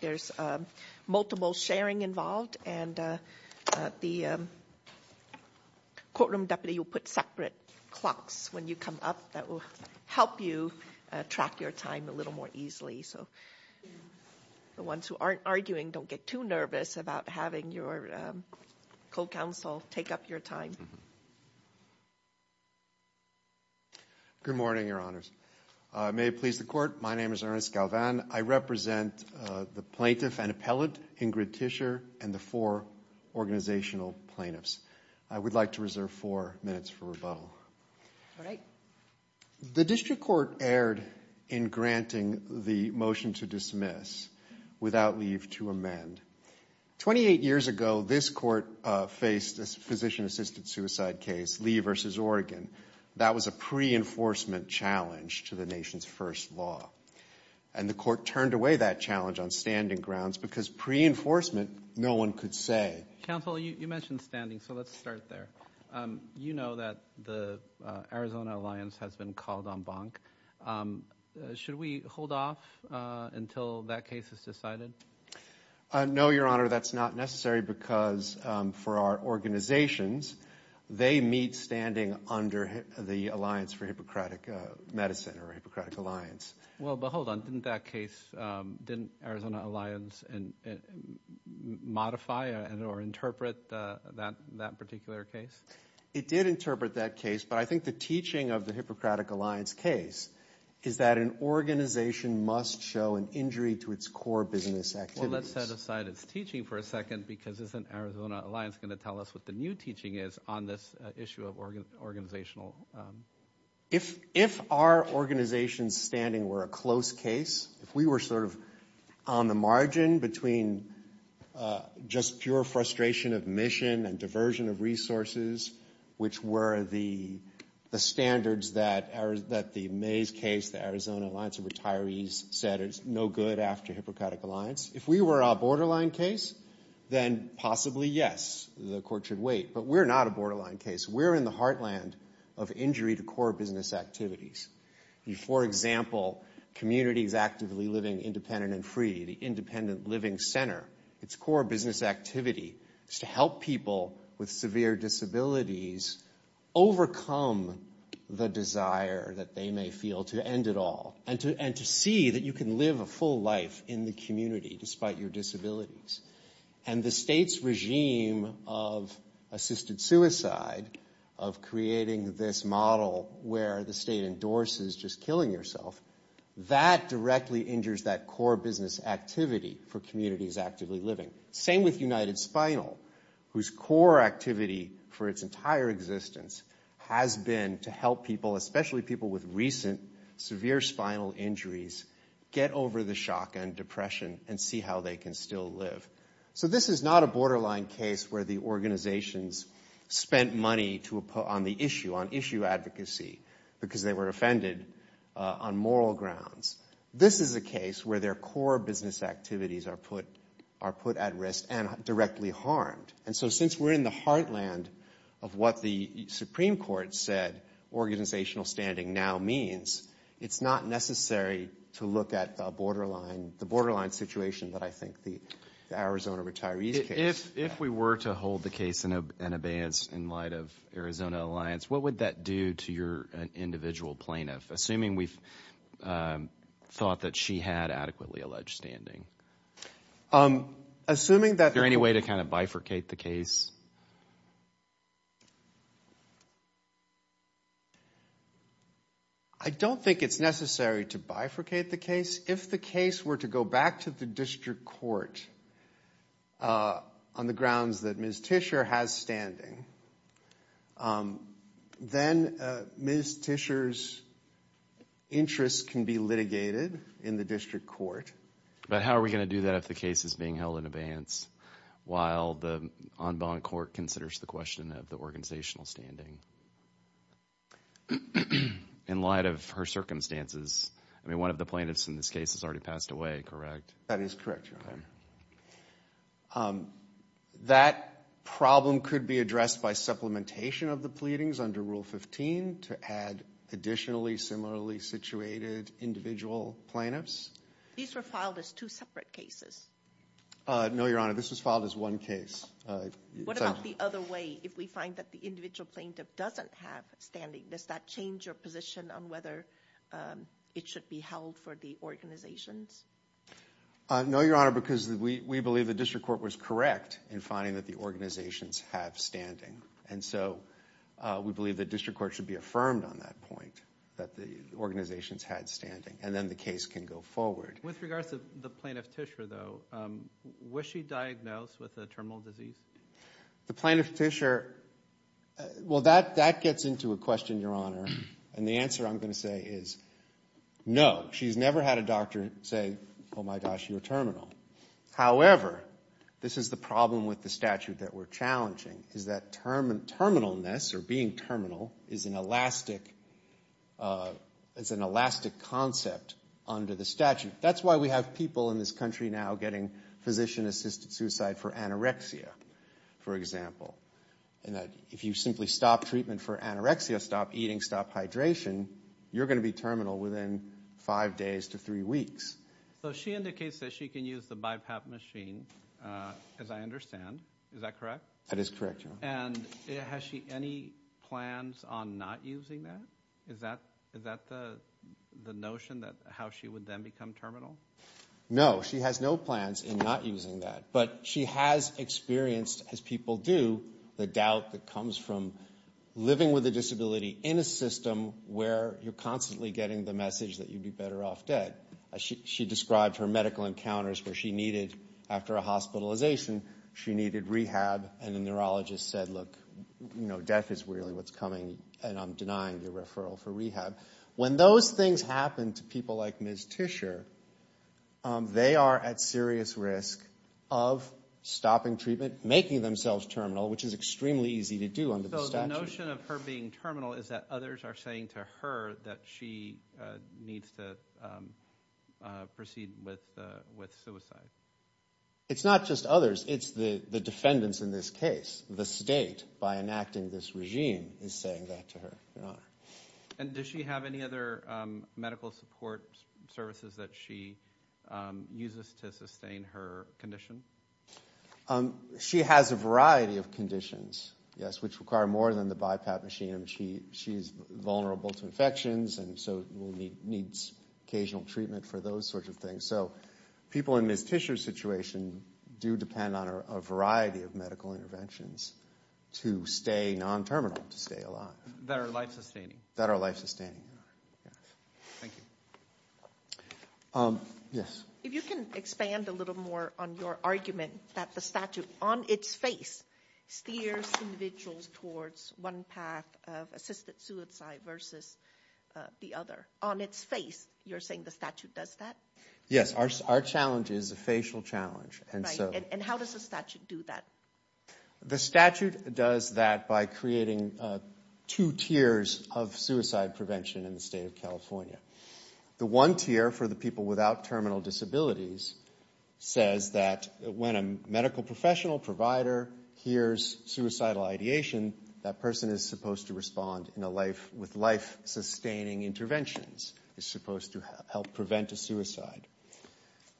There's multiple sharing involved and the courtroom deputy will put separate clocks when you come up that will help you track your time a little more easily so the ones who aren't arguing don't get too nervous about having your co-counsel take up your time. Good morning, your honors. May it please the court, my name is Ernest Galvan. I represent the plaintiff and appellate, Ingrid Tischer, and the four organizational plaintiffs. I would like to reserve four minutes for rebuttal. The district court erred in granting the motion to dismiss without leave to amend. Twenty-eight years ago this court faced a physician-assisted suicide case, Lee v. Oregon. That was a pre-enforcement challenge to the nation's first law. And the court turned away that challenge on standing grounds because pre-enforcement no one could say. Counsel, you mentioned standing so let's start there. You know that the Arizona Alliance has been called on bonk. Should we hold off until that case is decided? No, your honor, that's not necessary because for our organizations they meet standing under the Alliance for Hippocratic Medicine or Hippocratic Alliance. Well, but hold on. Didn't that case, didn't Arizona Alliance modify or interpret that particular case? It did interpret that case, but I think the teaching of the Hippocratic Alliance case is that an organization must show an injury to its core business activities. Well, let's set aside its teaching for a second because isn't Arizona Alliance going to tell us what the new teaching is on this issue of organizational? If our organization's standing were a close case, if we were sort of on the margin between just pure frustration of mission and diversion of resources, which were the standards that the Mays case, the Arizona Alliance of Retirees said is no good after Hippocratic Alliance. If we were a borderline case, then possibly yes, the court should wait, but we're not a borderline case. We're in the heartland of injury to core business activities. For example, communities actively living independent and free, the Independent Living Center, its core business activity is to help people with severe disabilities overcome the desire that they may feel to end it all and to see that you can live a full life in the community despite your disabilities. And the state's regime of assisted suicide, of creating this model where the state endorses just killing yourself, that directly injures that core business activity for communities actively living. Same with United Spinal, whose core activity for its entire existence has been to help people, especially people with recent severe spinal injuries, get over the shock and depression and see how they can still live. So this is not a borderline case where the organizations spent money on the issue, on issue advocacy, because they were offended on moral grounds. This is a case where their core business activities are put at risk and directly harmed. And so since we're in the heartland of what the Supreme Court said organizational standing now means, it's not necessary to look at the borderline situation that I think the Arizona retirees case. If we were to hold the case in abeyance in light of Arizona Alliance, what would that do to your individual plaintiff? Assuming we've thought that she had adequately alleged standing. Is there any way to kind of bifurcate the case? I don't think it's necessary to bifurcate the case. If the case were to go back to the district court on the grounds that Ms. Tischer has standing, then Ms. Tischer's interests can be litigated in the district court. But how are we going to do that if the case is being held in abeyance while the en banc court considers the question of the organizational standing? In light of her circumstances, I mean, one of the plaintiffs in this case has already passed away, correct? That is correct, Your Honor. That problem could be addressed by supplementation of the pleadings under Rule 15 to add additionally similarly situated individual plaintiffs. These were filed as two separate cases. No, Your Honor, this was filed as one case. What about the other way? If we find that the individual plaintiff doesn't have standing, does that change your position on whether it should be held for the organizations? No, Your Honor, because we believe the district court was correct in finding that the organizations have standing. And so we believe the district court should be affirmed on that point, that the organizations had standing. And then the case can go forward. With regards to the plaintiff tissue, though, was she diagnosed with a terminal disease? The plaintiff tissue, well, that gets into a question, Your Honor, and the answer I'm going to say is no. She's never had a doctor say, oh, my gosh, you're terminal. However, this is the problem with the statute that we're challenging is that terminalness or being terminal is an elastic concept under the statute. And that's why we have people in this country now getting physician-assisted suicide for anorexia, for example. And if you simply stop treatment for anorexia, stop eating, stop hydration, you're going to be terminal within five days to three weeks. So she indicates that she can use the BiPAP machine, as I understand. Is that correct? That is correct, Your Honor. And has she any plans on not using that? Is that the notion, how she would then become terminal? No. She has no plans in not using that. But she has experienced, as people do, the doubt that comes from living with a disability in a system where you're constantly getting the message that you'd be better off dead. She described her medical encounters where she needed, after a hospitalization, she needed rehab. And a neurologist said, look, death is really what's coming, and I'm denying your referral for rehab. When those things happen to people like Ms. Tischer, they are at serious risk of stopping treatment, making themselves terminal, which is extremely easy to do under the statute. So the notion of her being terminal is that others are saying to her that she needs to proceed with suicide. It's not just others. It's the defendants in this case. The state, by enacting this regime, is saying that to her. And does she have any other medical support services that she uses to sustain her condition? She has a variety of conditions, yes, which require more than the BiPAP machine. She is vulnerable to infections and so needs occasional treatment for those sorts of things. So people in Ms. Tischer's situation do depend on a variety of medical interventions to stay non-terminal, to stay alive. That are life-sustaining. That are life-sustaining, yes. Thank you. Yes? If you can expand a little more on your argument that the statute, on its face, steers individuals towards one path of assisted suicide versus the other. You're saying the statute does that? Our challenge is a facial challenge. And how does the statute do that? The statute does that by creating two tiers of suicide prevention in the state of California. The one tier for the people without terminal disabilities says that when a medical professional provider hears suicidal ideation, that person is supposed to respond with life-sustaining interventions. They're supposed to help prevent a suicide.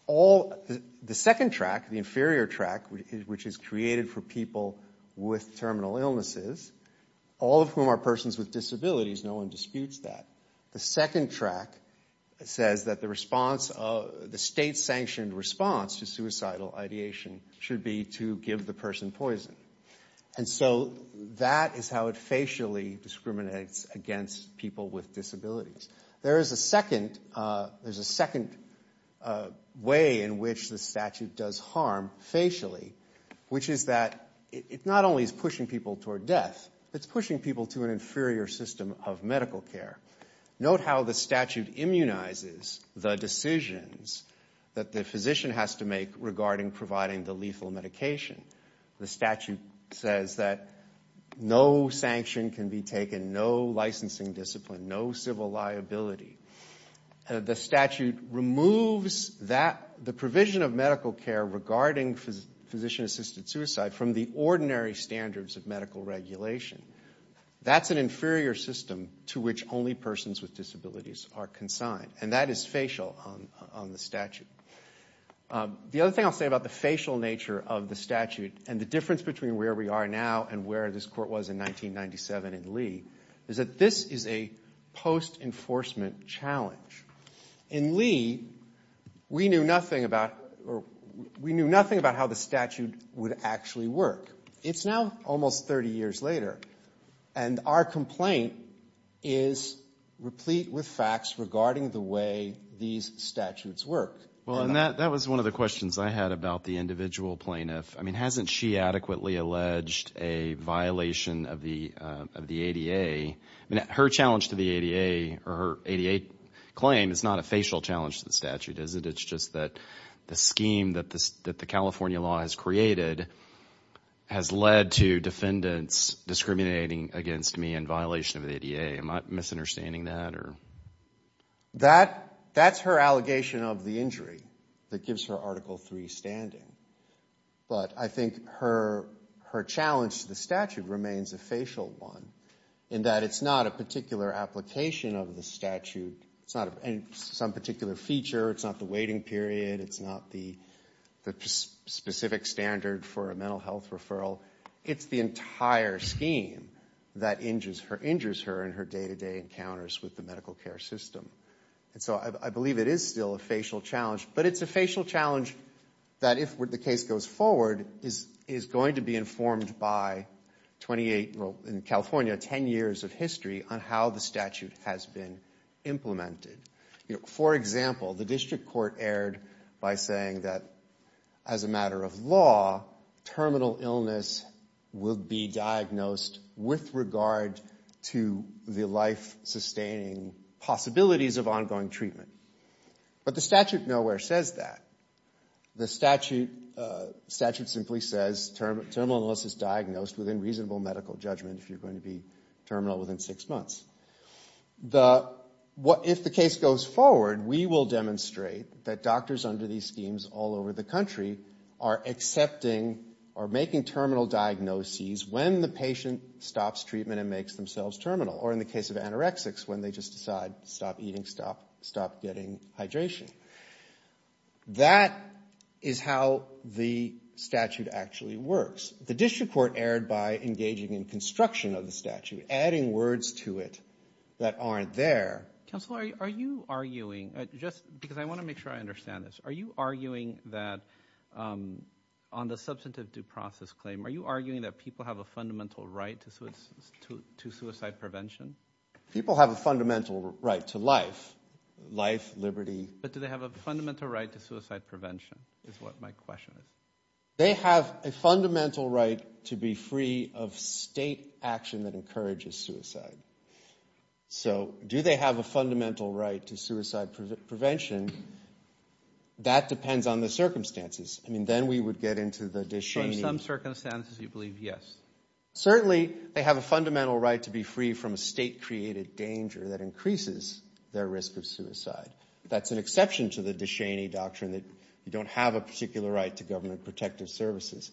The second track, the inferior track, which is created for people with terminal illnesses, all of whom are persons with disabilities, no one disputes that. The second track says that the state-sanctioned response to suicidal ideation should be to give the person poison. And so that is how it facially discriminates against people with disabilities. There is a second way in which the statute does harm facially, which is that it not only is pushing people toward death, it's pushing people to an inferior system of medical care. Note how the statute immunizes the decisions that the physician has to make regarding providing the lethal medication. The statute says that no sanction can be taken, no licensing discipline, no civil liability. The statute removes the provision of medical care regarding physician-assisted suicide from the ordinary standards of medical regulation. That's an inferior system to which only persons with disabilities are consigned, and that is facial on the statute. The other thing I'll say about the facial nature of the statute and the difference between where we are now and where this court was in 1997 in Lee is that this is a post-enforcement challenge. In Lee, we knew nothing about how the statute would actually work. It's now almost 30 years later, and our complaint is replete with facts regarding the way these statutes work. Well, and that was one of the questions I had about the individual plaintiff. I mean, hasn't she adequately alleged a violation of the ADA? I mean, her challenge to the ADA or her ADA claim is not a facial challenge to the statute, is it? It's just that the scheme that the California law has created has led to defendants discriminating against me in violation of the ADA. Am I misunderstanding that? That's her allegation of the injury that gives her Article III standing. But I think her challenge to the statute remains a facial one in that it's not a particular application of the statute. It's not some particular feature. It's not the waiting period. It's not the specific standard for a mental health referral. It's the entire scheme that injures her in her day-to-day encounters with the medical care system. And so I believe it is still a facial challenge. But it's a facial challenge that, if the case goes forward, is going to be informed by 28 or, in California, 10 years of history on how the statute has been implemented. For example, the district court erred by saying that, as a matter of law, terminal illness will be diagnosed with regard to the life-sustaining possibilities of ongoing treatment. But the statute nowhere says that. The statute simply says terminal illness is diagnosed within reasonable medical judgment if you're going to be terminal within six months. If the case goes forward, we will demonstrate that doctors under these schemes all over the country are accepting or making terminal diagnoses when the patient stops treatment and makes themselves terminal. Or in the case of anorexics, when they just decide, stop eating, stop getting hydration. That is how the statute actually works. The district court erred by engaging in construction of the statute, adding words to it that aren't there. Counselor, are you arguing, just because I want to make sure I understand this, are you arguing that on the substantive due process claim, are you arguing that people have a fundamental right to suicide prevention? People have a fundamental right to life, life, liberty. But do they have a fundamental right to suicide prevention is what my question is. They have a fundamental right to be free of state action that encourages suicide. So do they have a fundamental right to suicide prevention? That depends on the circumstances. I mean, then we would get into the Descheny. Under some circumstances, you believe, yes. Certainly, they have a fundamental right to be free from a state-created danger that increases their risk of suicide. That's an exception to the Descheny doctrine that you don't have a particular right to government protective services,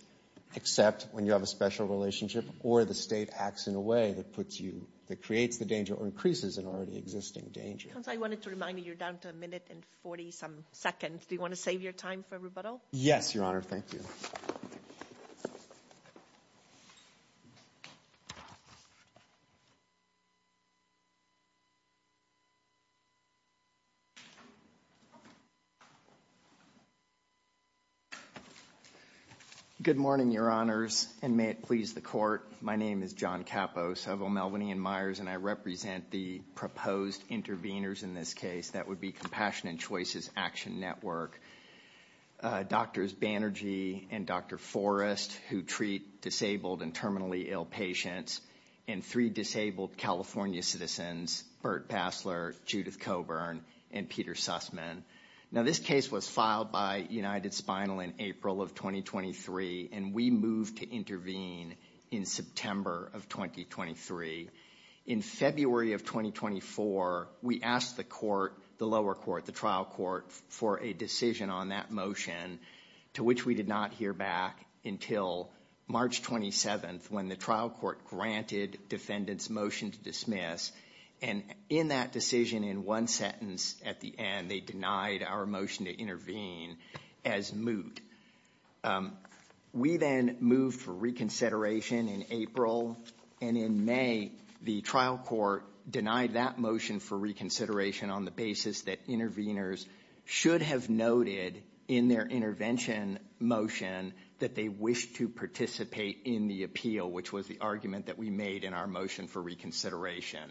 except when you have a special relationship or the state acts in a way that creates the danger or increases an already existing danger. Counsel, I wanted to remind you you're down to a minute and 40-some seconds. Do you want to save your time for rebuttal? Yes, Your Honor. Thank you. Good morning, Your Honors, and may it please the Court. My name is John Capos of O'Melveny & Myers, and I represent the proposed interveners in this case. That would be Compassion and Choices Action Network. Doctors Banerjee and Dr. Forrest, who treat disabled and terminally ill patients, and three disabled California citizens, Burt Passler, Judith Coburn, and Peter Sussman. Now, this case was filed by UnitedSpinal in April of 2023, and we moved to intervene in September of 2023. In February of 2024, we asked the court, the lower court, the trial court, for a decision on that motion, to which we did not hear back until March 27th, when the trial court granted defendants' motion to dismiss. And in that decision, in one sentence at the end, they denied our motion to intervene as moot. We then moved for reconsideration in April, and in May, the trial court denied that motion for reconsideration on the basis that interveners should have noted in their intervention motion that they wished to participate in the appeal, which was the argument that we made in our motion for reconsideration.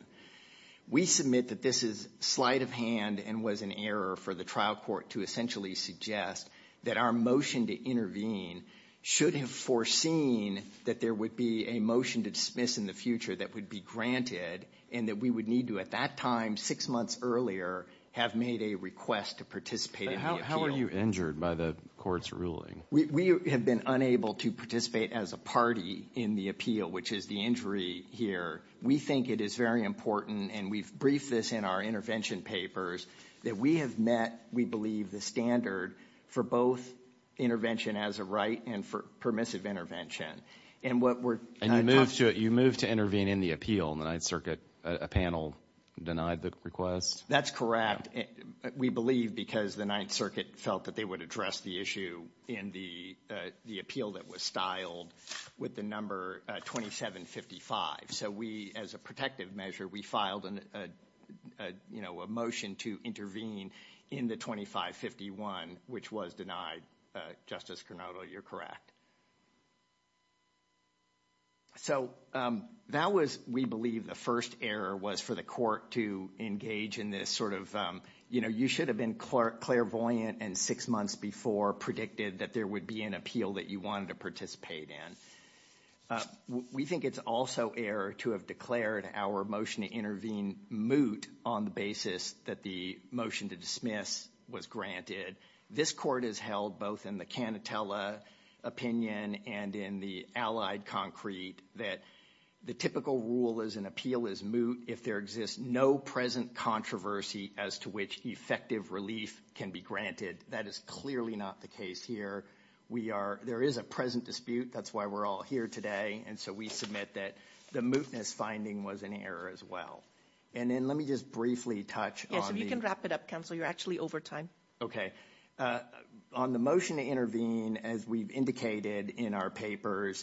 We submit that this is slight of hand and was an error for the trial court to essentially suggest that our motion to intervene should have foreseen that there would be a motion to dismiss in the future that would be granted and that we would need to, at that time, six months earlier, have made a request to participate in the appeal. But how are you injured by the court's ruling? We have been unable to participate as a party in the appeal, which is the injury here. We think it is very important, and we've briefed this in our intervention papers, that we have met, we believe, the standard for both intervention as a right and for permissive intervention. And what we're going to talk about next is the appeal. And you moved to intervene in the appeal in the Ninth Circuit. A panel denied the request? That's correct. We believe because the Ninth Circuit felt that they would address the issue in the appeal that was styled with the number 2755. So we, as a protective measure, we filed a motion to intervene in the 2551, which was denied. Justice Carnoto, you're correct. So that was, we believe, the first error was for the court to engage in this sort of, you know, you should have been clairvoyant and six months before predicted that there would be an appeal that you wanted to participate in. We think it's also error to have declared our motion to intervene moot on the basis that the motion to dismiss was granted. This court has held, both in the Canatella opinion and in the allied concrete, that the typical rule as an appeal is moot if there exists no present controversy as to which effective relief can be granted. That is clearly not the case here. There is a present dispute. That's why we're all here today. And so we submit that the mootness finding was an error as well. And then let me just briefly touch on the- Yes, if you can wrap it up, counsel. You're actually over time. Okay. On the motion to intervene, as we've indicated in our papers,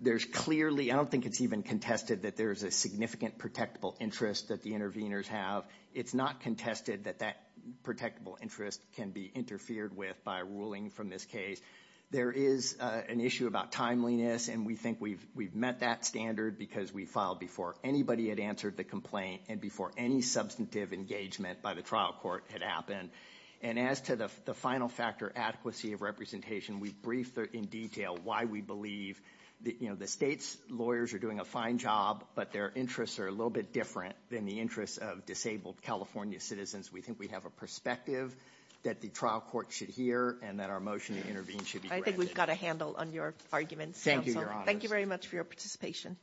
there's clearly, I don't think it's even contested that there's a significant protectable interest that the interveners have. It's not contested that that protectable interest can be interfered with by a ruling from this case. There is an issue about timeliness, and we think we've met that standard because we filed before anybody had answered the complaint and before any substantive engagement by the trial court had happened. And as to the final factor, adequacy of representation, we've briefed in detail why we believe that the state's lawyers are doing a fine job, but their interests are a little bit different than the interests of disabled California citizens. We think we have a perspective that the trial court should hear and that our motion to intervene should be granted. I think we've got a handle on your arguments, counsel. Thank you, Your Honors. Thank you very much for your participation.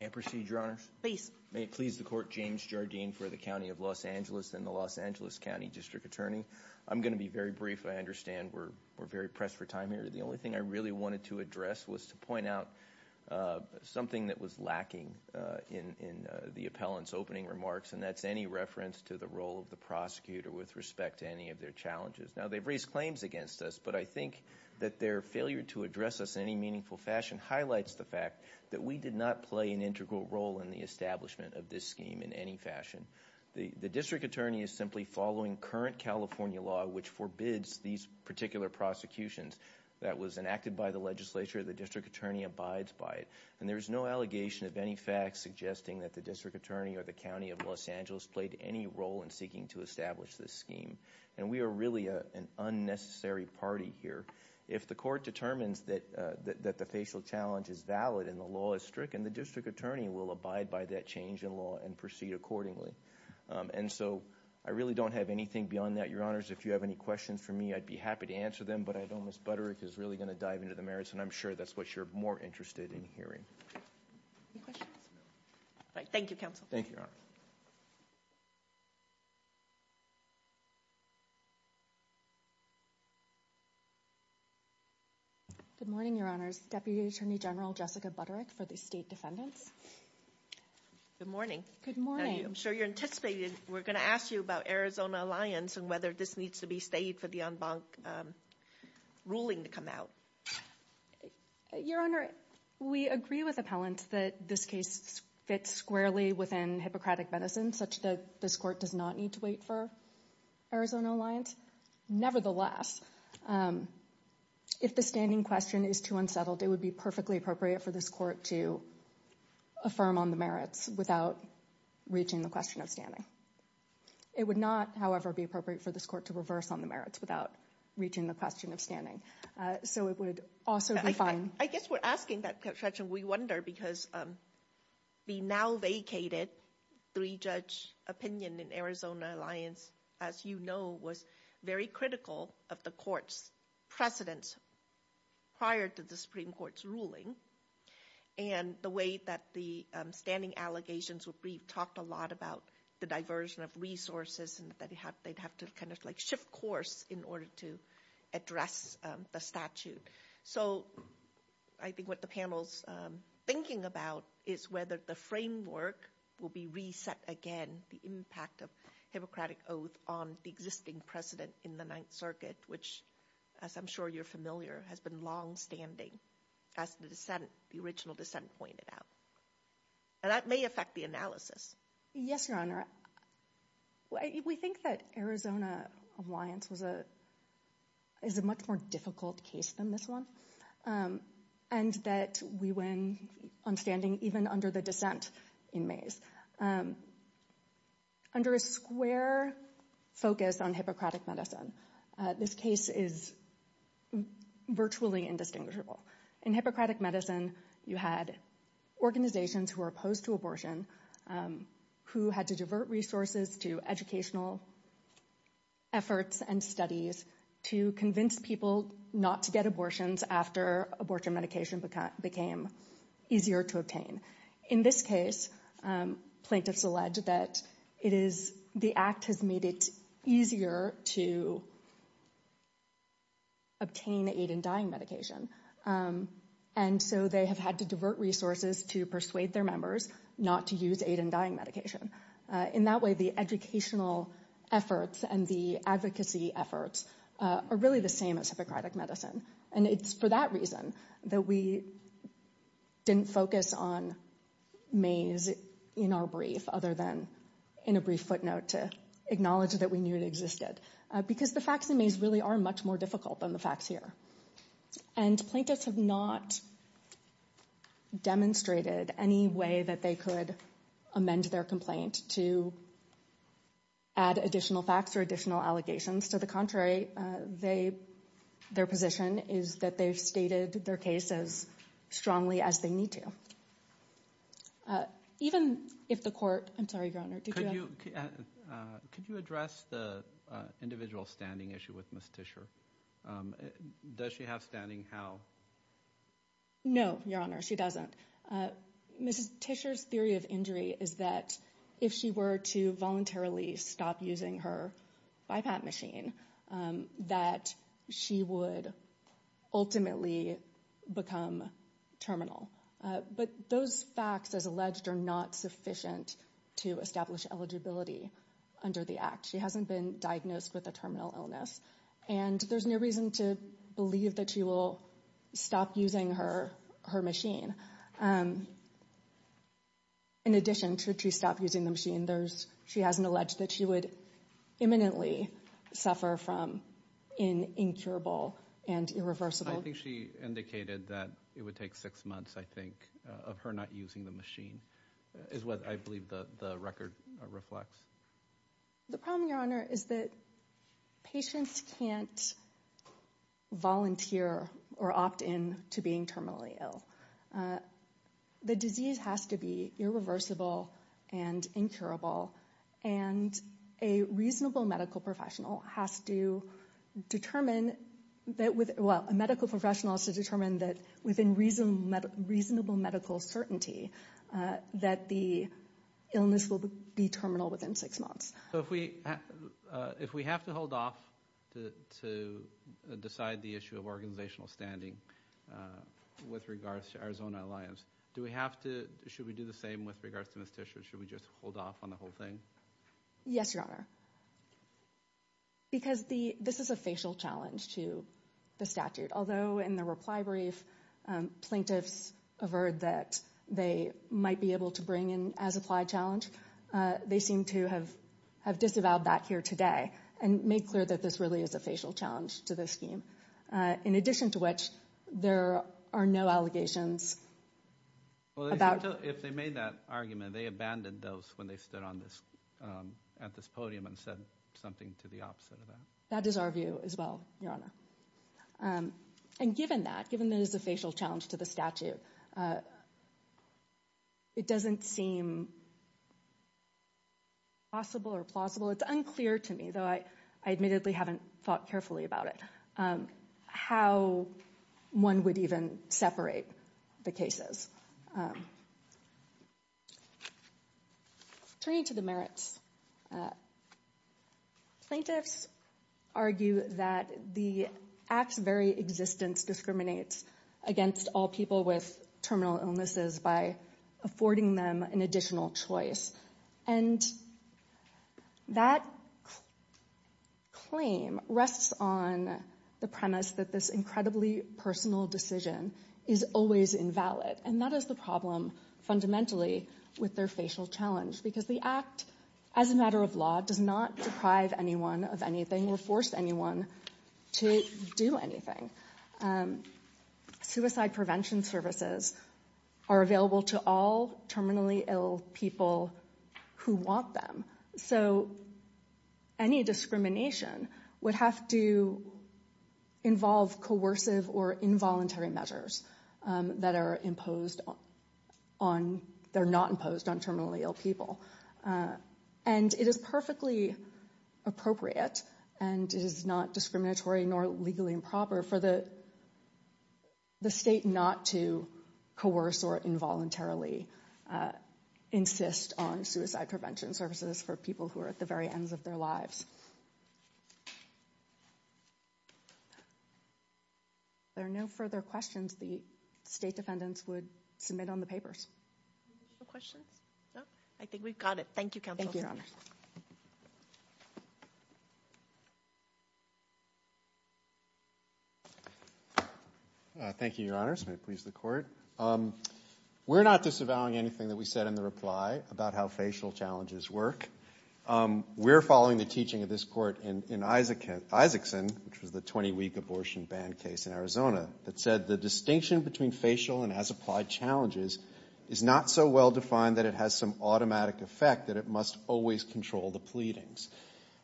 May I proceed, Your Honors? Please. May it please the court, James Jardine for the County of Los Angeles and the Los Angeles County District Attorney. I'm going to be very brief. I understand we're very pressed for time here. The only thing I really wanted to address was to point out something that was lacking in the appellant's opening remarks, and that's any reference to the role of the prosecutor with respect to any of their challenges. Now, they've raised claims against us, but I think that their failure to address us in any meaningful fashion highlights the fact that we did not play an integral role in the establishment of this scheme in any fashion. The district attorney is simply following current California law, which forbids these particular prosecutions that was enacted by the legislature. The district attorney abides by it, and there is no allegation of any facts suggesting that the district attorney or the County of Los Angeles played any role in seeking to establish this scheme, and we are really an unnecessary party here. If the court determines that the facial challenge is valid and the law is strict, then the district attorney will abide by that change in law and proceed accordingly. And so I really don't have anything beyond that, Your Honors. If you have any questions for me, I'd be happy to answer them, but I know Ms. Butterick is really going to dive into the merits, and I'm sure that's what you're more interested in hearing. Any questions? No. Thank you, Counsel. Thank you, Your Honors. Good morning, Your Honors. Deputy Attorney General Jessica Butterick for the State Defendants. Good morning. Good morning. I'm sure you're anticipating we're going to ask you about Arizona Alliance and whether this needs to be stayed for the en banc ruling to come out. Your Honor, we agree with appellants that this case fits squarely within Hippocratic medicine, such that this court does not need to wait for Arizona Alliance. Nevertheless, if the standing question is too unsettled, it would be perfectly appropriate for this court to affirm on the merits without reaching the question of standing. It would not, however, be appropriate for this court to reverse on the merits without reaching the question of standing. So it would also be fine. I guess we're asking that question, we wonder, because the now vacated three-judge opinion in Arizona Alliance, as you know, was very critical of the court's precedence prior to the Supreme Court's ruling, and the way that the standing allegations were briefed talked a lot about the diversion of resources and that they'd have to kind of like shift course in order to address the statute. So I think what the panel's thinking about is whether the framework will be reset again, the impact of Hippocratic Oath on the existing precedent in the Ninth Circuit, which, as I'm sure you're familiar, has been longstanding, as the dissent, the original dissent pointed out. And that may affect the analysis. Yes, Your Honor. We think that Arizona Alliance is a much more difficult case than this one, and that we win on standing even under the dissent in Mays. Under a square focus on Hippocratic medicine, this case is virtually indistinguishable. In Hippocratic medicine, you had organizations who were opposed to abortion, who had to divert resources to educational efforts and studies to convince people not to get abortions after abortion medication became easier to obtain. In this case, plaintiffs allege that the Act has made it easier to obtain the aid in dying medication. And so they have had to divert resources to persuade their members not to use aid in dying medication. In that way, the educational efforts and the advocacy efforts are really the same as Hippocratic medicine. And it's for that reason that we didn't focus on Mays in our brief, other than in a brief footnote to acknowledge that we knew it existed, because the facts in Mays really are much more difficult than the facts here. And plaintiffs have not demonstrated any way that they could amend their complaint to add additional facts or additional allegations. To the contrary, their position is that they've stated their case as strongly as they need to. Even if the court—I'm sorry, Your Honor, did you have— Could you address the individual standing issue with Ms. Tischer? Does she have standing how— No, Your Honor, she doesn't. Ms. Tischer's theory of injury is that if she were to voluntarily stop using her BiPAP machine, that she would ultimately become terminal. But those facts, as alleged, are not sufficient to establish eligibility under the Act. She hasn't been diagnosed with a terminal illness. And there's no reason to believe that she will stop using her machine. In addition to she stop using the machine, she hasn't alleged that she would imminently suffer from an incurable and irreversible— I think she indicated that it would take six months, I think, of her not using the machine, is what I believe the record reflects. The problem, Your Honor, is that patients can't volunteer or opt in to being terminally ill. The disease has to be irreversible and incurable, and a reasonable medical professional has to determine that— well, a medical professional has to determine that within reasonable medical certainty that the illness will be terminal within six months. So if we have to hold off to decide the issue of organizational standing with regards to Arizona Alliance, should we do the same with regards to Ms. Tischer? Should we just hold off on the whole thing? Yes, Your Honor, because this is a facial challenge to the statute. Although in the reply brief, plaintiffs averred that they might be able to bring in as-applied challenge, they seem to have disavowed that here today and made clear that this really is a facial challenge to the scheme, in addition to which there are no allegations about— Well, if they made that argument, they abandoned those when they stood at this podium and said something to the opposite of that. That is our view as well, Your Honor. And given that, given that it is a facial challenge to the statute, it doesn't seem possible or plausible. It's unclear to me, though I admittedly haven't thought carefully about it, how one would even separate the cases. Turning to the merits, plaintiffs argue that the act's very existence discriminates against all people with terminal illnesses by affording them an additional choice. And that claim rests on the premise that this incredibly personal decision is always invalid. And that is the problem fundamentally with their facial challenge, because the act, as a matter of law, does not deprive anyone of anything or force anyone to do anything. Suicide prevention services are available to all terminally ill people who want them. So any discrimination would have to involve coercive or involuntary measures that are imposed on—they're not imposed on terminally ill people. And it is perfectly appropriate, and it is not discriminatory nor legally improper, for the state not to coerce or involuntarily insist on suicide prevention services for people who are at the very ends of their lives. If there are no further questions, the state defendants would submit on the papers. No questions? No? I think we've got it. Thank you, Counsel. Thank you, Your Honors. Thank you, Your Honors. May it please the Court. We're not disavowing anything that we said in the reply about how facial challenges work. We're following the teaching of this Court in Isaacson, which was the 20-week abortion ban case in Arizona, that said the distinction between facial and as-applied challenges is not so well-defined that it has some automatic effect, that it must always control the pleadings.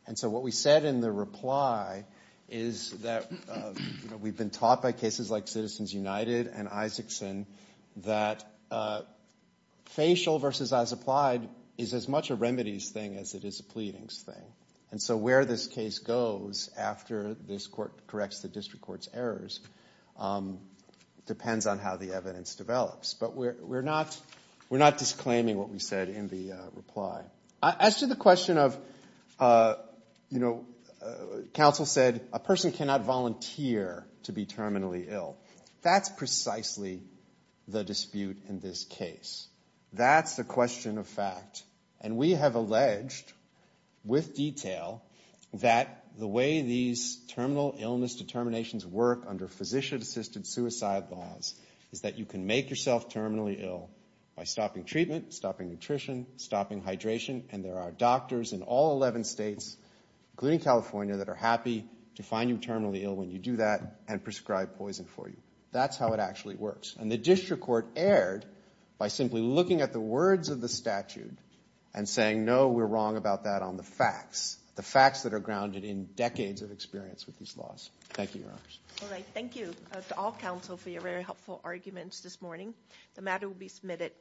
And so what we said in the reply is that we've been taught by cases like Citizens United and Isaacson that facial versus as-applied is as much a remedies thing as it is a pleadings thing. And so where this case goes after this Court corrects the district court's errors depends on how the evidence develops. But we're not disclaiming what we said in the reply. As to the question of, you know, Counsel said a person cannot volunteer to be terminally ill. That's precisely the dispute in this case. That's a question of fact. And we have alleged with detail that the way these terminal illness determinations work under physician-assisted suicide laws is that you can make yourself terminally ill by stopping treatment, stopping nutrition, stopping hydration. And there are doctors in all 11 states, including California, that are happy to find you terminally ill when you do that and prescribe poison for you. That's how it actually works. And the district court erred by simply looking at the words of the statute and saying, no, we're wrong about that on the facts, the facts that are grounded in decades of experience with these laws. Thank you, Your Honors. All right. Thank you to all counsel for your very helpful arguments this morning. The matter will be submitted.